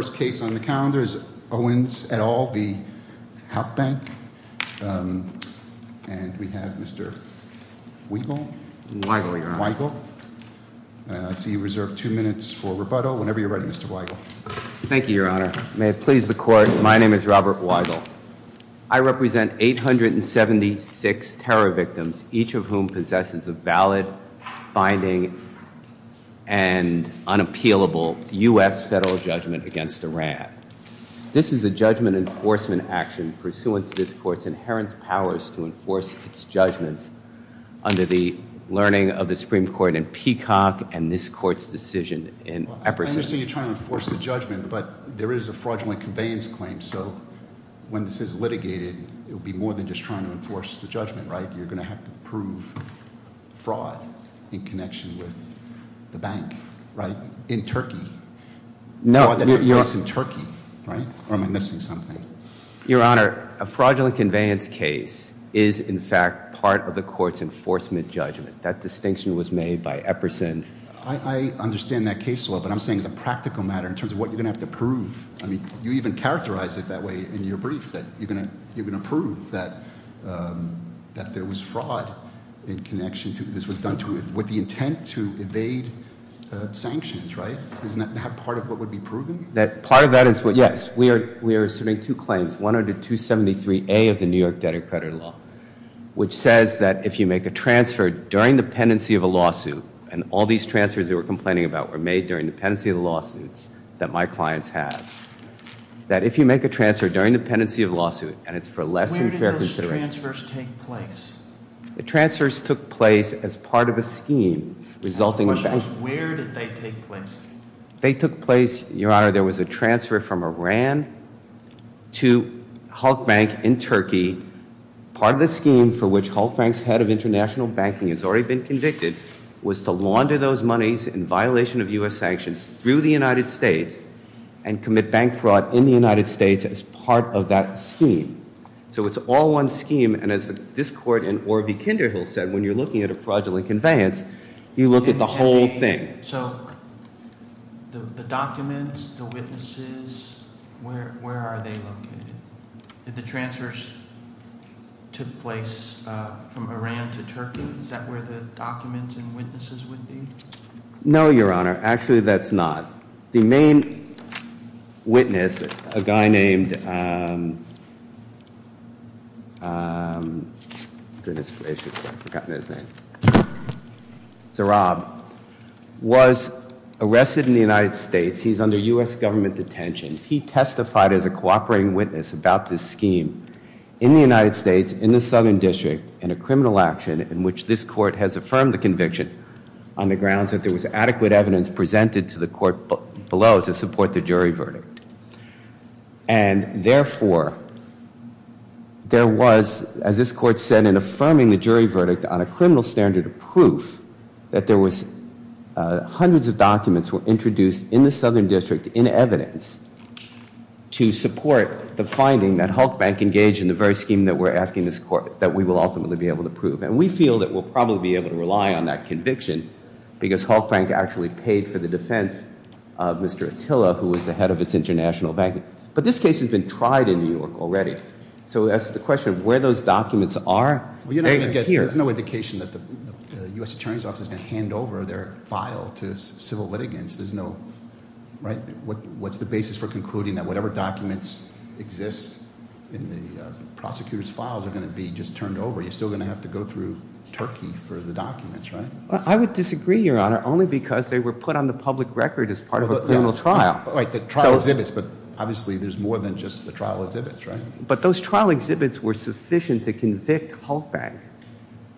First case on the calendar is Owens et al. v. Halk Bank, and we have Mr. Weigel. Weigel, Your Honor. Weigel. I see you reserve two minutes for rebuttal whenever you're ready, Mr. Weigel. Thank you, Your Honor. May it please the Court, my name is Robert Weigel. I represent 876 terror victims, each of whom possesses a valid, binding, and unappealable U.S. federal judgment against Iran. This is a judgment enforcement action pursuant to this Court's inherent powers to enforce its judgments under the learning of the Supreme Court in Peacock and this Court's decision in Epperson. I understand you're trying to enforce the judgment, but there is a fraudulent conveyance claim, so when this is litigated, it would be more than just trying to enforce the judgment, right? You're going to have to prove fraud in connection with the bank, right? In Turkey. No. That's in Turkey, right? Or am I missing something? Your Honor, a fraudulent conveyance case is, in fact, part of the Court's enforcement judgment. That distinction was made by Epperson. I understand that case law, but I'm saying as a practical matter, in terms of what you're going to have to prove, I mean, you even characterized it that way in your brief, that you're going to prove that there was fraud in connection, this was done with the intent to evade sanctions, right? Isn't that part of what would be proven? Part of that is, yes, we are submitting two claims, 10273A of the New York Debtor Credit Law, which says that if you make a transfer during the pendency of a lawsuit, and all these transfers you were complaining about were made during the pendency of the lawsuits that my clients have, that if you make a transfer during the pendency of a lawsuit and it's for less than fair consideration... Where did those transfers take place? The transfers took place as part of a scheme resulting... My question is, where did they take place? They took place, Your Honor, there was a transfer from Iran to Halk Bank in Turkey. Part of the scheme for which Halk Bank's head of international banking has already been convicted was to launder those monies in violation of U.S. sanctions through the United States and commit bank fraud in the United States as part of that scheme. So it's all one scheme, and as this court in Orvie Kinderhill said, when you're looking at a fraudulent conveyance, you look at the whole thing. So the documents, the witnesses, where are they located? Did the transfers take place from Iran to Turkey? Is that where the documents and witnesses would be? No, Your Honor, actually that's not. The main witness, a guy named... Goodness gracious, I've forgotten his name. Zarab, was arrested in the United States. He's under U.S. government detention. He testified as a cooperating witness about this scheme in the United States in the Southern District in a criminal action in which this court has affirmed the conviction on the grounds that there was adequate evidence presented to the court below to support the jury verdict. And therefore, there was, as this court said, in affirming the jury verdict on a criminal standard of proof that there was hundreds of documents were introduced in the Southern District in evidence to support the finding that Halk Bank engaged in the very scheme that we're asking this court that we will ultimately be able to prove. And we feel that we'll probably be able to rely on that conviction because Halk Bank actually paid for the defense of Mr. Attila, who was the head of its international bank. But this case has been tried in New York already. So as to the question of where those documents are, they're here. There's no indication that the U.S. Attorney's Office is going to hand over their file to civil litigants. There's no, right? What's the basis for concluding that whatever documents exist in the prosecutor's files are going to be just turned over? You're still going to have to go through Turkey for the documents, right? I would disagree, Your Honor, only because they were put on the public record as part of a criminal trial. Right, the trial exhibits. But obviously there's more than just the trial exhibits, right? But those trial exhibits were sufficient to convict Halk Bank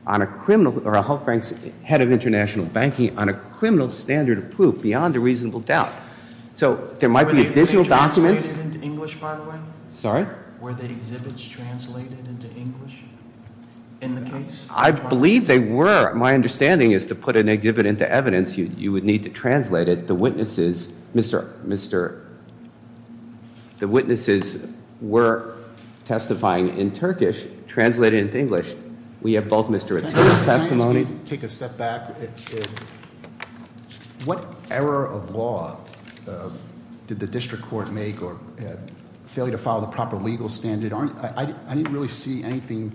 on a criminal – or Halk Bank's head of international banking on a criminal standard of proof beyond a reasonable doubt. So there might be additional documents. Were the exhibits translated into English, by the way? Sorry? Were the exhibits translated into English in the case? I believe they were. My understanding is to put an exhibit into evidence, you would need to translate it. The witnesses were testifying in Turkish, translated into English. If I may take a step back. What error of law did the district court make or failure to follow the proper legal standard? I didn't really see anything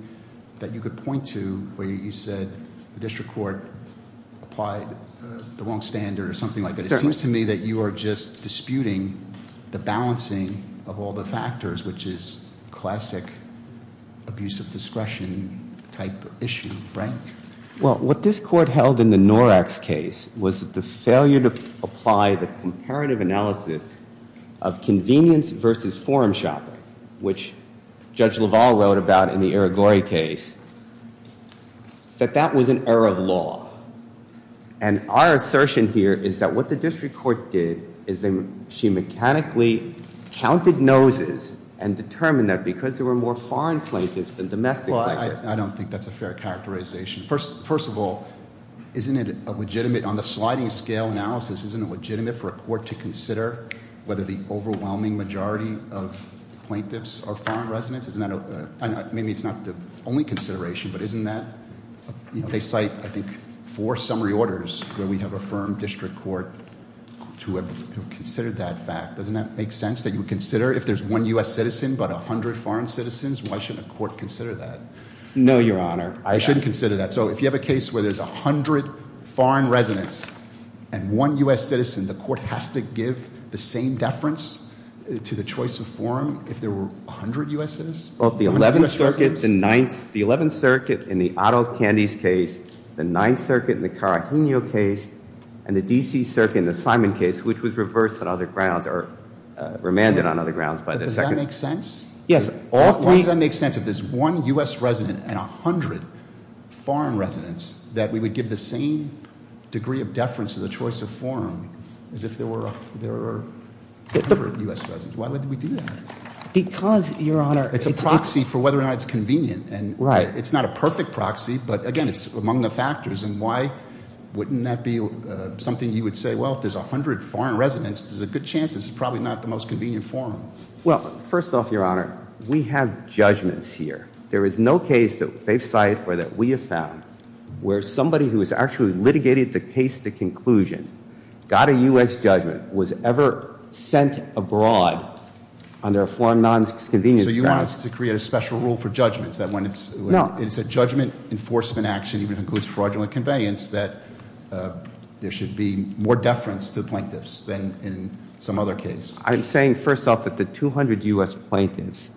that you could point to where you said the district court applied the wrong standard or something like that. It seems to me that you are just disputing the balancing of all the factors, which is classic abuse of discretion type issue, right? Well, what this court held in the Norax case was the failure to apply the comparative analysis of convenience versus forum shopping, which Judge LaValle wrote about in the Irigori case, that that was an error of law. And our assertion here is that what the district court did is she mechanically counted noses and determined that because there were more foreign plaintiffs than domestic plaintiffs. Well, I don't think that's a fair characterization. First of all, isn't it legitimate on the sliding scale analysis, isn't it legitimate for a court to consider whether the overwhelming majority of plaintiffs are foreign residents? Maybe it's not the only consideration, but isn't that? They cite, I think, four summary orders where we have affirmed district court to consider that fact. Doesn't that make sense that you would consider if there's one U.S. citizen but 100 foreign citizens, why shouldn't a court consider that? No, Your Honor. I shouldn't consider that. So if you have a case where there's 100 foreign residents and one U.S. citizen, the court has to give the same deference to the choice of forum if there were 100 U.S. citizens? Both the 11th Circuit in the Otto Candies case, the 9th Circuit in the Carajinio case, and the D.C. Circuit in the Simon case, which was reversed on other grounds or remanded on other grounds by the second. Does that make sense? Yes. Why does that make sense if there's one U.S. resident and 100 foreign residents, that we would give the same degree of deference to the choice of forum as if there were 100 U.S. residents? Why would we do that? Because, Your Honor— It's a proxy for whether or not it's convenient. Right. It's not a perfect proxy, but again, it's among the factors. And why wouldn't that be something you would say, well, if there's 100 foreign residents, there's a good chance this is probably not the most convenient forum? Well, first off, Your Honor, we have judgments here. There is no case that they've cited or that we have found where somebody who has actually litigated the case to conclusion, got a U.S. judgment, was ever sent abroad under a foreign nonconvenience guidance. So you want us to create a special rule for judgments, that when it's a judgment enforcement action, even if it includes fraudulent conveyance, that there should be more deference to the plaintiffs than in some other case? I'm saying, first off, that the 200 U.S. plaintiffs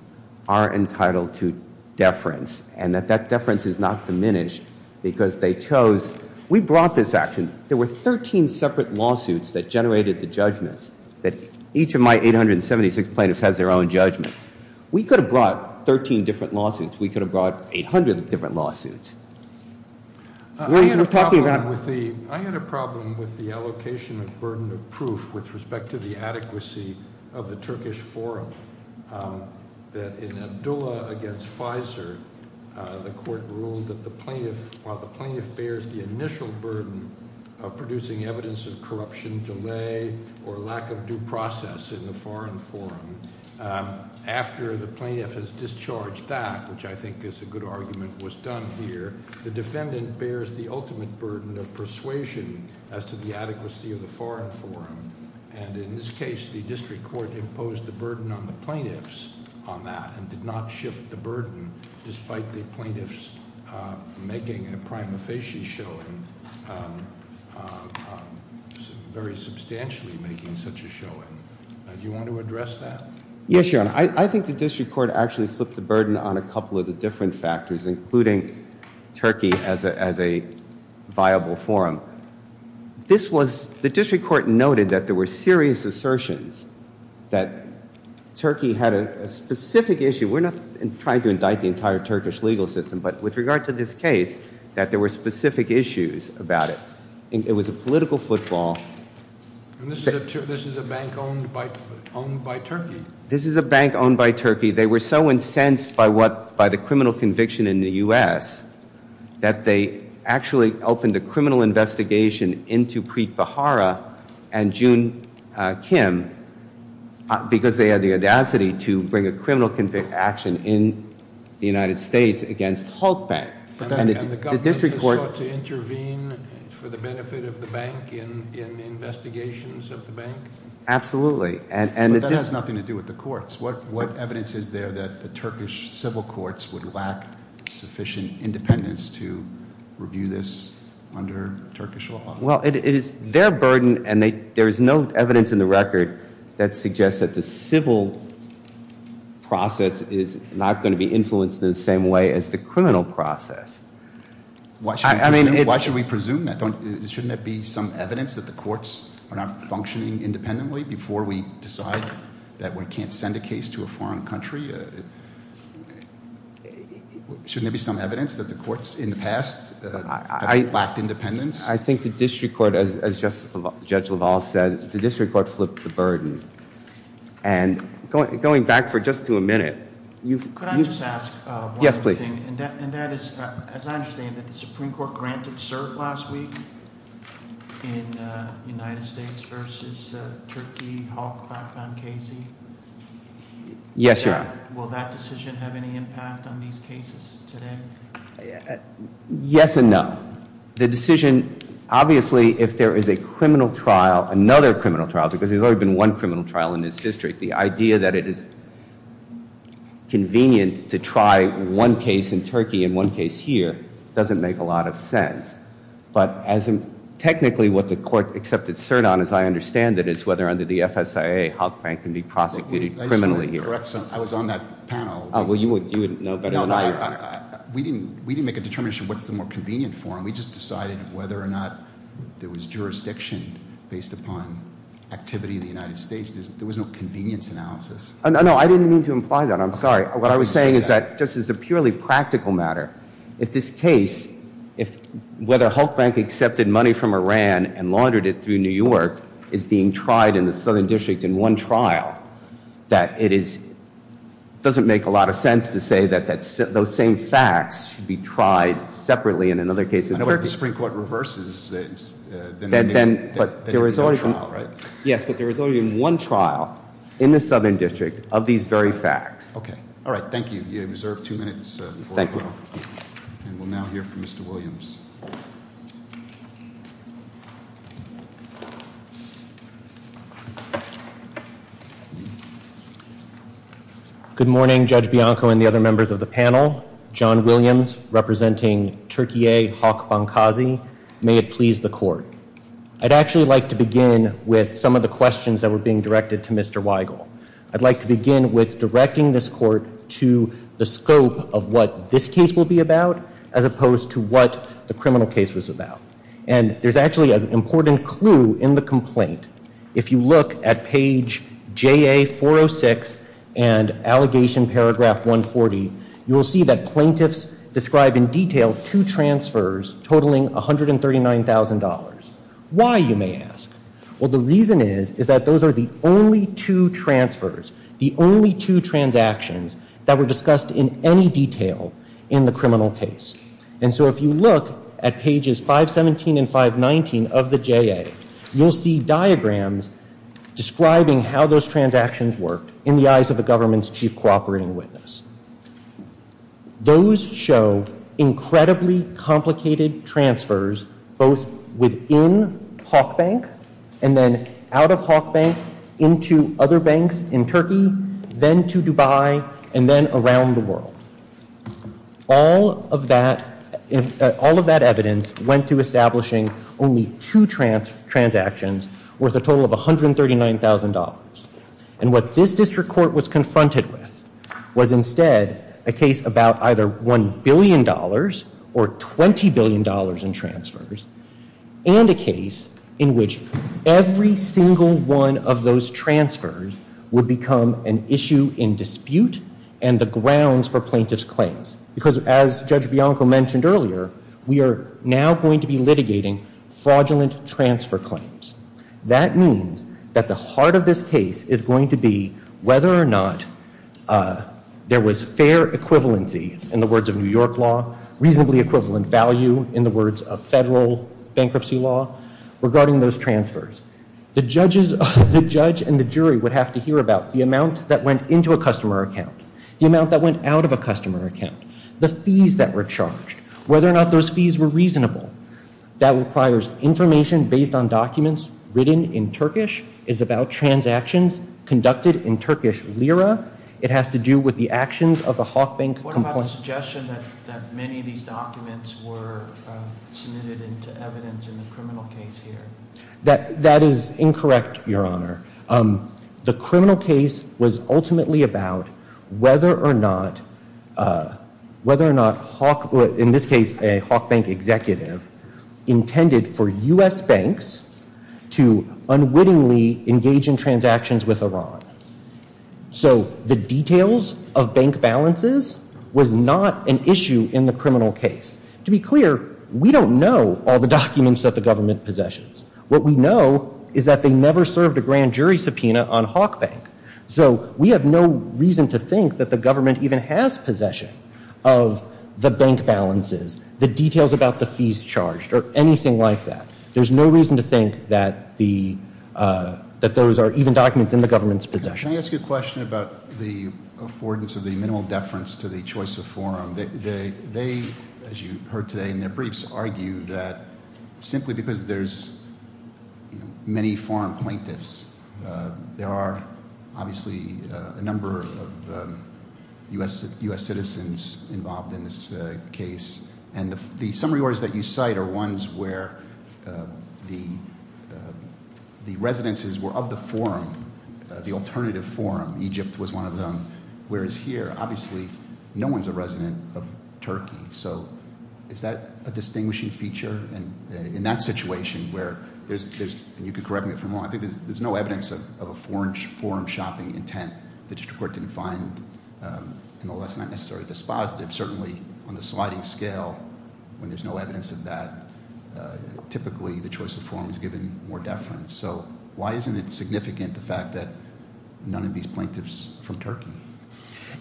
are entitled to deference, and that that deference is not diminished because they chose—we brought this action. There were 13 separate lawsuits that generated the judgments, that each of my 876 plaintiffs has their own judgment. We could have brought 13 different lawsuits. We could have brought 800 different lawsuits. We're talking about— I had a problem with the allocation of burden of proof with respect to the adequacy of the Turkish forum. That in Abdullah against FISA, the court ruled that the plaintiff—while the plaintiff bears the initial burden of producing evidence of corruption delay or lack of due process in the foreign forum, after the plaintiff has discharged that, which I think is a good argument, was done here, the defendant bears the ultimate burden of persuasion as to the adequacy of the foreign forum. And in this case, the district court imposed the burden on the plaintiffs on that and did not shift the burden, despite the plaintiffs making a prima facie showing, very substantially making such a showing. Do you want to address that? Yes, Your Honor. I think the district court actually flipped the burden on a couple of the different factors, including Turkey as a viable forum. This was—the district court noted that there were serious assertions that Turkey had a specific issue. We're not trying to indict the entire Turkish legal system, but with regard to this case, that there were specific issues about it. It was a political football. And this is a bank owned by Turkey? This is a bank owned by Turkey. They were so incensed by the criminal conviction in the U.S. that they actually opened a criminal investigation into Preet Bharara and June Kim, because they had the audacity to bring a criminal action in the United States against Hulk Bank. And the government just sought to intervene for the benefit of the bank in investigations of the bank? Absolutely. But that has nothing to do with the courts. What evidence is there that the Turkish civil courts would lack sufficient independence to review this under Turkish law? Well, it is their burden, and there is no evidence in the record that suggests that the civil process is not going to be influenced in the same way as the criminal process. Why should we presume that? Shouldn't there be some evidence that the courts are not functioning independently before we decide that we can't send a case to a foreign country? Shouldn't there be some evidence that the courts in the past lacked independence? I think the district court, as Judge LaValle said, the district court flipped the burden. And going back for just to a minute. Yes, please. And that is, as I understand it, the Supreme Court granted cert last week in United States versus Turkey, Hulk, Bank Bank, Casey? Yes, Your Honor. Will that decision have any impact on these cases today? Yes and no. The decision, obviously, if there is a criminal trial, another criminal trial, because there's already been one criminal trial in this district, the idea that it is convenient to try one case in Turkey and one case here doesn't make a lot of sense. But technically what the court accepted cert on, as I understand it, is whether under the FSIA, Hulk, Bank can be prosecuted criminally here. I was on that panel. Well, you would know better than I. We didn't make a determination what's the more convenient form. We just decided whether or not there was jurisdiction based upon activity in the United States. There was no convenience analysis. No, I didn't mean to imply that. I'm sorry. What I was saying is that just as a purely practical matter, if this case, whether Hulk, Bank accepted money from Iran and laundered it through New York is being tried in the southern district in one trial, that it doesn't make a lot of sense to say that those same facts should be tried separately in another case in Turkey. I know what the Supreme Court reverses. But there is only one trial in the southern district of these very facts. Okay. All right. Thank you. You have reserved two minutes. Thank you. And we'll now hear from Mr. Williams. Good morning, Judge Bianco and the other members of the panel. John Williams representing Turkey A, Hulk, Bank Kazi. May it please the court. I'd actually like to begin with some of the questions that were being directed to Mr. Weigel. I'd like to begin with directing this court to the scope of what this case will be about as opposed to what the criminal case was about. And there's actually an important clue in the complaint. If you look at page JA406 and allegation paragraph 140, you will see that plaintiffs describe in detail two transfers totaling $139,000. Why, you may ask. Well, the reason is, is that those are the only two transfers, the only two transactions that were discussed in any detail in the criminal case. And so if you look at pages 517 and 519 of the JA, you'll see diagrams describing how those transactions worked in the eyes of the government's chief cooperating witness. Those show incredibly complicated transfers both within Hulk Bank and then out of Hulk Bank into other banks in Turkey, then to Dubai, and then around the world. All of that, all of that evidence went to establishing only two transactions worth a total of $139,000. And what this district court was confronted with was instead a case about either $1 billion or $20 billion in transfers, and a case in which every single one of those transfers would become an issue in dispute and the grounds for plaintiff's claims. Because as Judge Bianco mentioned earlier, we are now going to be litigating fraudulent transfer claims. That means that the heart of this case is going to be whether or not there was fair equivalency in the words of New York law, reasonably equivalent value in the words of federal bankruptcy law regarding those transfers. The judge and the jury would have to hear about the amount that went into a customer account, the amount that went out of a customer account, the fees that were charged, whether or not those fees were reasonable. That requires information based on documents written in Turkish, is about transactions conducted in Turkish lira. It has to do with the actions of the Hulk Bank. What about the suggestion that many of these documents were submitted into evidence in the criminal case here? That is incorrect, Your Honor. The criminal case was ultimately about whether or not Hulk, in this case a Hulk Bank executive, intended for U.S. banks to unwittingly engage in transactions with Iran. So the details of bank balances was not an issue in the criminal case. To be clear, we don't know all the documents that the government possesses. What we know is that they never served a grand jury subpoena on Hulk Bank. So we have no reason to think that the government even has possession of the bank balances, the details about the fees charged, or anything like that. There's no reason to think that those are even documents in the government's possession. Can I ask you a question about the affordance of the minimal deference to the choice of forum? They, as you heard today in their briefs, argue that simply because there's many foreign plaintiffs, there are obviously a number of U.S. citizens involved in this case. And the summary orders that you cite are ones where the residences were of the forum, the alternative forum. Egypt was one of them. Whereas here, obviously, no one's a resident of Turkey. So is that a distinguishing feature? And in that situation where there's, and you can correct me if I'm wrong, I think there's no evidence of a foreign forum shopping intent. The district court didn't find, and that's not necessarily dispositive. Certainly on the sliding scale, when there's no evidence of that, typically the choice of forum is given more deference. So why isn't it significant, the fact that none of these plaintiffs are from Turkey?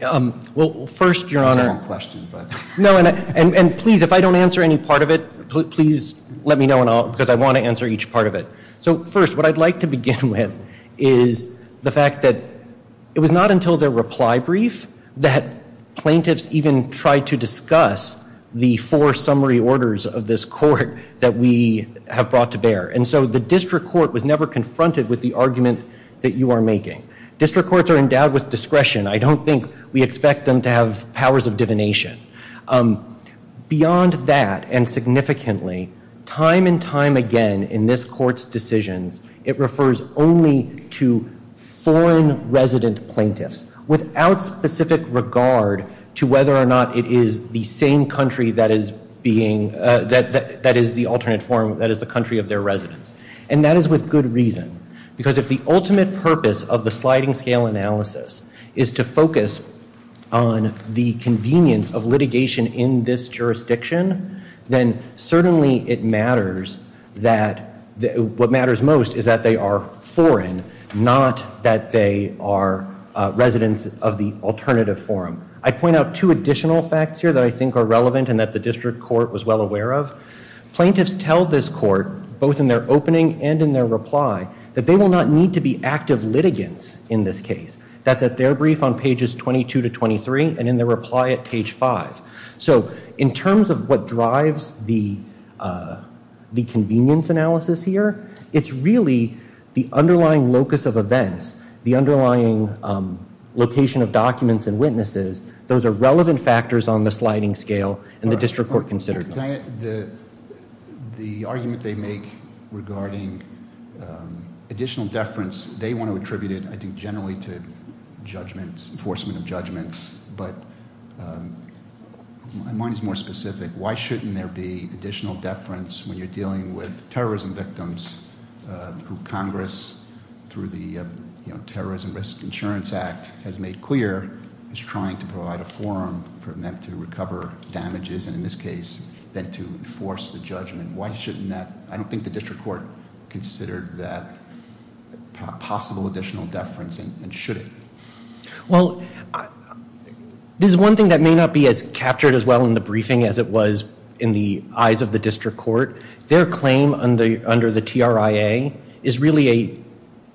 Well, first, Your Honor. It's a long question. No, and please, if I don't answer any part of it, please let me know because I want to answer each part of it. So first, what I'd like to begin with is the fact that it was not until their reply brief that plaintiffs even tried to discuss the four summary orders of this court that we have brought to bear. And so the district court was never confronted with the argument that you are making. District courts are endowed with discretion. I don't think we expect them to have powers of divination. Beyond that, and significantly, time and time again in this court's decisions, it refers only to foreign resident plaintiffs without specific regard to whether or not it is the same country that is being, that is the alternate forum, that is the country of their residence. And that is with good reason because if the ultimate purpose of the sliding scale analysis is to focus on the convenience of litigation in this jurisdiction, then certainly it matters that what matters most is that they are foreign, not that they are residents of the alternative forum. I'd point out two additional facts here that I think are relevant and that the district court was well aware of. Plaintiffs tell this court, both in their opening and in their reply, that they will not need to be active litigants in this case. That's at their brief on pages 22 to 23 and in their reply at page 5. So in terms of what drives the convenience analysis here, it's really the underlying locus of events, the underlying location of documents and witnesses. Those are relevant factors on the sliding scale and the district court considered them. The argument they make regarding additional deference, they want to attribute it, I think, generally to enforcement of judgments. But mine is more specific. Why shouldn't there be additional deference when you're dealing with terrorism victims who Congress, through the Terrorism Risk Insurance Act, has made clear is trying to provide a forum for them to recover damages, and in this case, then to enforce the judgment. Why shouldn't that, I don't think the district court considered that possible additional deference and should it? Well, this is one thing that may not be as captured as well in the briefing as it was in the eyes of the district court. Their claim under the TRIA is really a,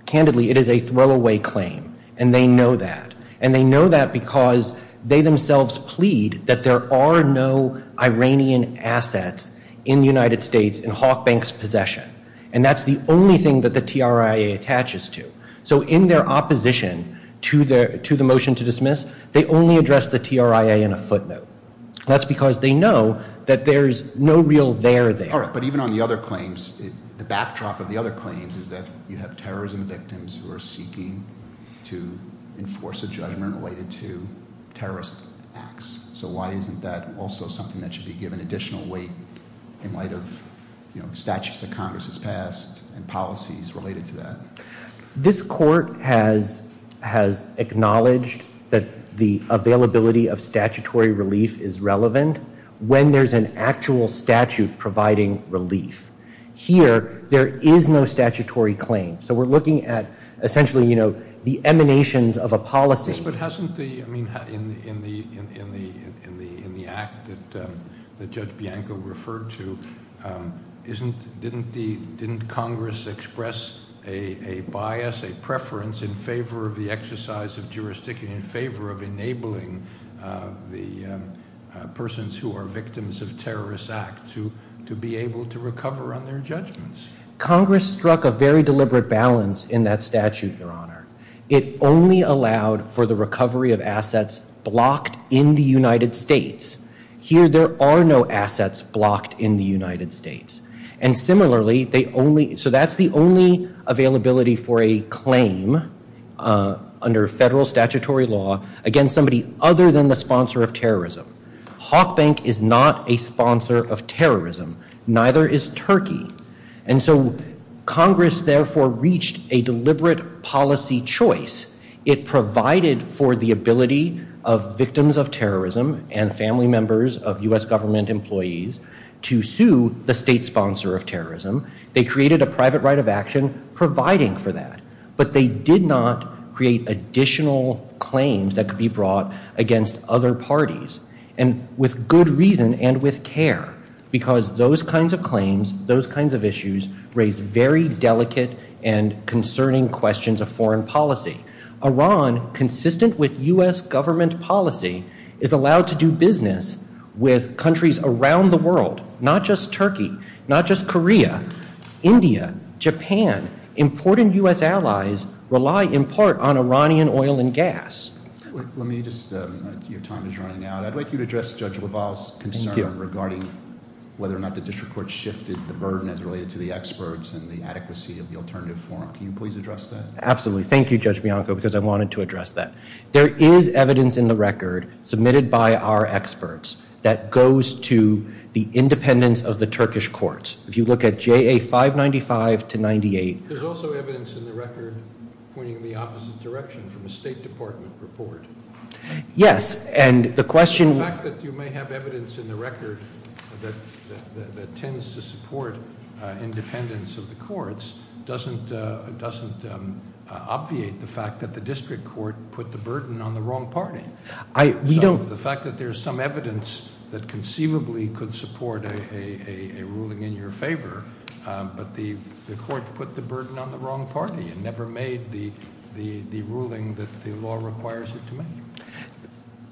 candidly, it is a throwaway claim. And they know that. And they know that because they themselves plead that there are no Iranian assets in the United States in Hawk Bank's possession. And that's the only thing that the TRIA attaches to. So in their opposition to the motion to dismiss, they only address the TRIA in a footnote. That's because they know that there's no real there there. But even on the other claims, the backdrop of the other claims is that you have terrorism victims who are seeking to enforce a judgment related to terrorist acts. So why isn't that also something that should be given additional weight in light of statutes that Congress has passed and policies related to that? This court has acknowledged that the availability of statutory relief is relevant. When there's an actual statute providing relief. Here, there is no statutory claim. So we're looking at essentially, you know, the emanations of a policy. Yes, but hasn't the, I mean, in the act that Judge Bianco referred to, didn't Congress express a bias, a preference in favor of the exercise of jurisdiction, in favor of enabling the persons who are victims of terrorist acts to be able to recover on their judgments? Congress struck a very deliberate balance in that statute, Your Honor. It only allowed for the recovery of assets blocked in the United States. Here, there are no assets blocked in the United States. And similarly, they only, so that's the only availability for a claim under federal statutory law against somebody other than the sponsor of terrorism. Hawk Bank is not a sponsor of terrorism. Neither is Turkey. And so Congress therefore reached a deliberate policy choice. It provided for the ability of victims of terrorism and family members of U.S. government employees to sue the state sponsor of terrorism. They created a private right of action providing for that. But they did not create additional claims that could be brought against other parties. And with good reason and with care. Because those kinds of claims, those kinds of issues, raise very delicate and concerning questions of foreign policy. Iran, consistent with U.S. government policy, is allowed to do business with countries around the world. Not just Turkey. Not just Korea. India. Japan. Important U.S. allies rely in part on Iranian oil and gas. Let me just, your time is running out. I'd like you to address Judge LaValle's concern regarding whether or not the district court shifted the burden as related to the experts and the adequacy of the alternative forum. Can you please address that? Absolutely. Thank you, Judge Bianco, because I wanted to address that. There is evidence in the record submitted by our experts that goes to the independence of the Turkish courts. If you look at JA 595 to 98. There's also evidence in the record pointing in the opposite direction from a State Department report. Yes. And the question. The fact that you may have evidence in the record that tends to support independence of the courts doesn't obviate the fact that the district court put the burden on the wrong party. We don't. The fact that there's some evidence that conceivably could support a ruling in your favor, but the court put the burden on the wrong party and never made the ruling that the law requires it to make.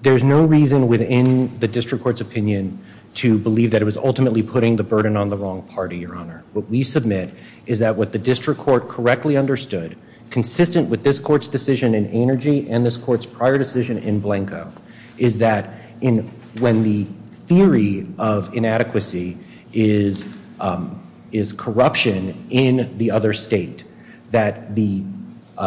There's no reason within the district court's opinion to believe that it was ultimately putting the burden on the wrong party, Your Honor. What we submit is that what the district court correctly understood, consistent with this court's decision in Energy and this court's prior decision in Blanco, is that when the theory of inadequacy is corruption in the other state, that the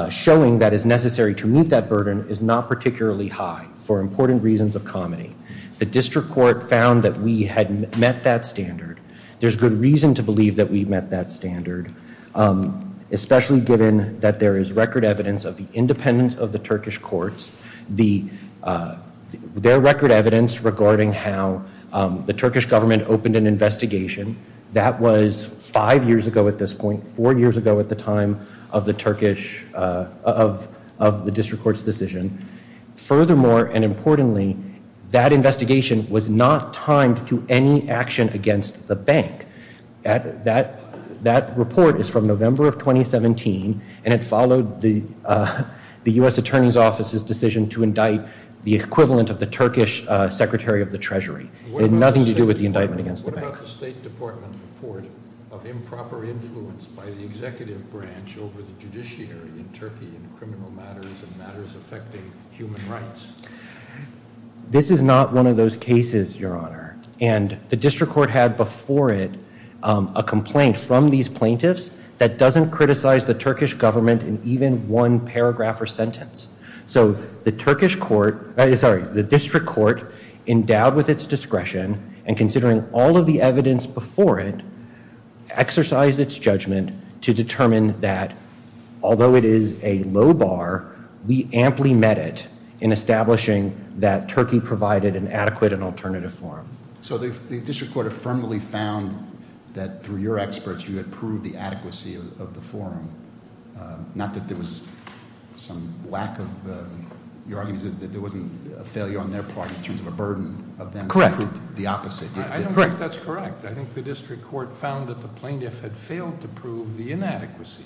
showing that is necessary to meet that burden is not particularly high for important reasons of comedy. The district court found that we had met that standard. There's good reason to believe that we met that standard, especially given that there is record evidence of the independence of the Turkish courts. There's record evidence regarding how the Turkish government opened an investigation. That was five years ago at this point, four years ago at the time of the district court's decision. Furthermore, and importantly, that investigation was not timed to any action against the bank. That report is from November of 2017, and it followed the U.S. Attorney's Office's decision to indict the equivalent of the Turkish Secretary of the Treasury. It had nothing to do with the indictment against the bank. What about the State Department's report of improper influence by the executive branch over the judiciary in Turkey in criminal matters and matters affecting human rights? This is not one of those cases, Your Honor. And the district court had before it a complaint from these plaintiffs that doesn't criticize the Turkish government in even one paragraph or sentence. So the district court, endowed with its discretion and considering all of the evidence before it, exercised its judgment to determine that although it is a low bar, we amply met it in establishing that Turkey provided an adequate and alternative forum. So the district court affirmatively found that through your experts you had proved the adequacy of the forum, not that there was some lack of, your argument is that there wasn't a failure on their part in terms of a burden of them. Correct. The opposite. I don't think that's correct. I think the district court found that the plaintiff had failed to prove the inadequacy.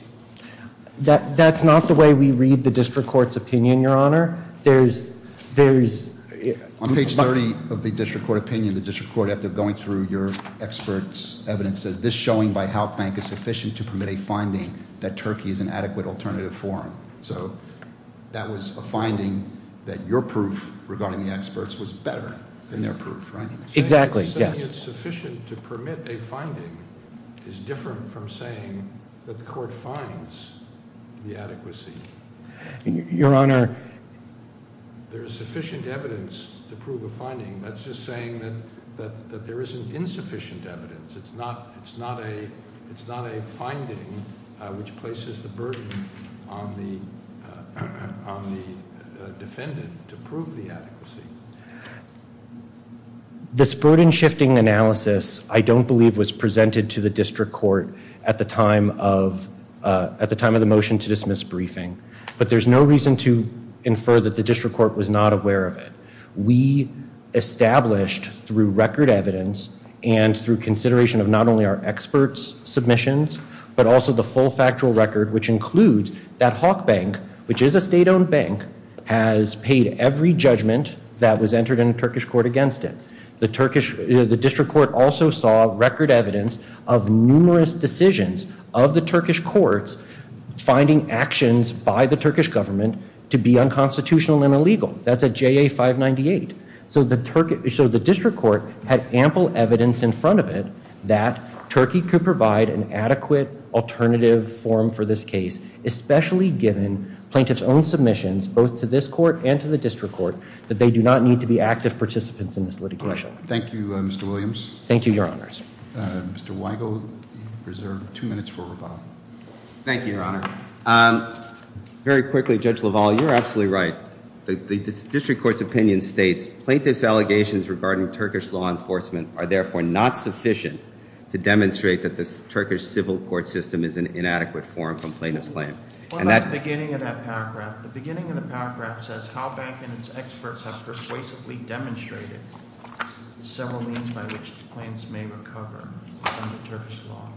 That's not the way we read the district court's opinion, Your Honor. On page 30 of the district court opinion, the district court, after going through your experts' evidence, says this showing by Halk Bank is sufficient to permit a finding that Turkey is an adequate alternative forum. So that was a finding that your proof regarding the experts was better than their proof, right? Exactly. Saying it's sufficient to permit a finding is different from saying that the court finds the adequacy. Your Honor. There is sufficient evidence to prove a finding. That's just saying that there isn't insufficient evidence. It's not a finding which places the burden on the defendant to prove the adequacy. This burden shifting analysis I don't believe was presented to the district court at the time of the motion to dismiss briefing. But there's no reason to infer that the district court was not aware of it. We established through record evidence and through consideration of not only our experts' submissions, but also the full factual record which includes that Halk Bank, which is a state-owned bank, has paid every judgment that was entered in a Turkish court against it. The district court also saw record evidence of numerous decisions of the Turkish courts finding actions by the Turkish government to be unconstitutional and illegal. That's at JA 598. So the district court had ample evidence in front of it that Turkey could provide an adequate alternative form for this case, especially given plaintiff's own submissions both to this court and to the district court, that they do not need to be active participants in this litigation. Thank you, Mr. Williams. Thank you, Your Honors. Mr. Weigel, you have two minutes for rebuttal. Thank you, Your Honor. Very quickly, Judge LaValle, you're absolutely right. The district court's opinion states, plaintiff's allegations regarding Turkish law enforcement are therefore not sufficient to demonstrate that the Turkish civil court system is an inadequate form for plaintiff's claim. What about the beginning of that paragraph? The beginning of the paragraph says, Halk Bank and its experts have persuasively demonstrated several means by which claims may recover under Turkish law.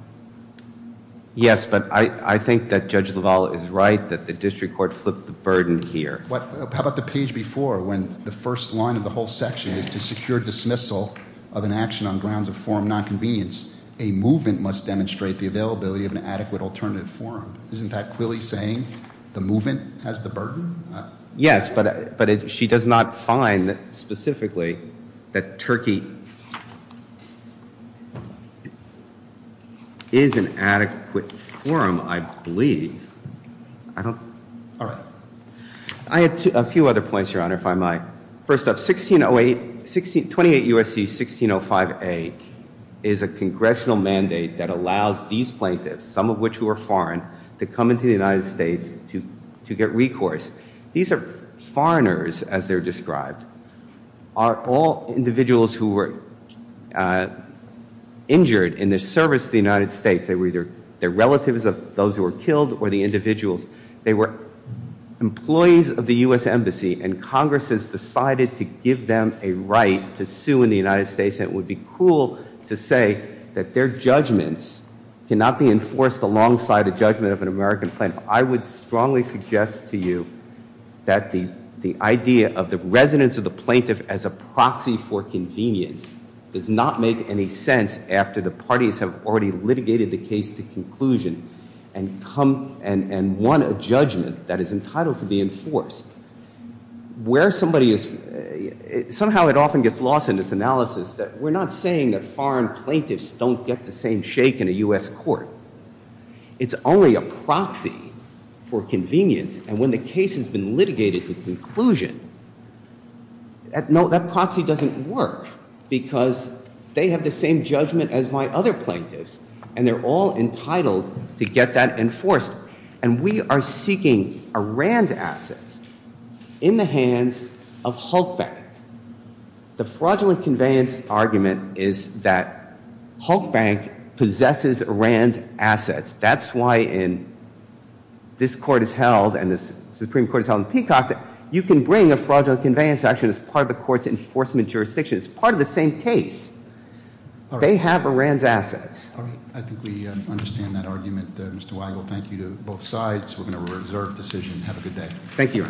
Yes, but I think that Judge LaValle is right that the district court flipped the burden here. How about the page before when the first line of the whole section is, to secure dismissal of an action on grounds of forum nonconvenience, a movement must demonstrate the availability of an adequate alternative forum. Isn't that clearly saying the movement has the burden? Yes, but she does not find specifically that Turkey is an adequate forum, I believe. I had a few other points, Your Honor, if I might. First off, 1608, 28 U.S.C. 1605A is a congressional mandate that allows these plaintiffs, some of which who are foreign, to come into the United States to get recourse. These are foreigners, as they're described, are all individuals who were injured in their service to the United States. They were either their relatives of those who were killed or the individuals. They were employees of the U.S. Embassy, and Congress has decided to give them a right to sue in the United States, and it would be cruel to say that their judgments cannot be enforced alongside a judgment of an American plaintiff. I would strongly suggest to you that the idea of the residence of the plaintiff as a proxy for convenience does not make any sense after the parties have already litigated the case to conclusion and won a judgment that is entitled to be enforced. Somehow it often gets lost in this analysis that we're not saying that foreign plaintiffs don't get the same shake in a U.S. court. It's only a proxy for convenience, and when the case has been litigated to conclusion, that proxy doesn't work because they have the same judgment as my other plaintiffs, and they're all entitled to get that enforced. And we are seeking Iran's assets in the hands of Hulk Bank. The fraudulent conveyance argument is that Hulk Bank possesses Iran's assets. That's why in this court is held and this Supreme Court is held in Peacock, you can bring a fraudulent conveyance action as part of the court's enforcement jurisdiction. It's part of the same case. They have Iran's assets. I think we understand that argument. Mr. Weigel, thank you to both sides. We're going to reserve decision. Have a good day. Thank you.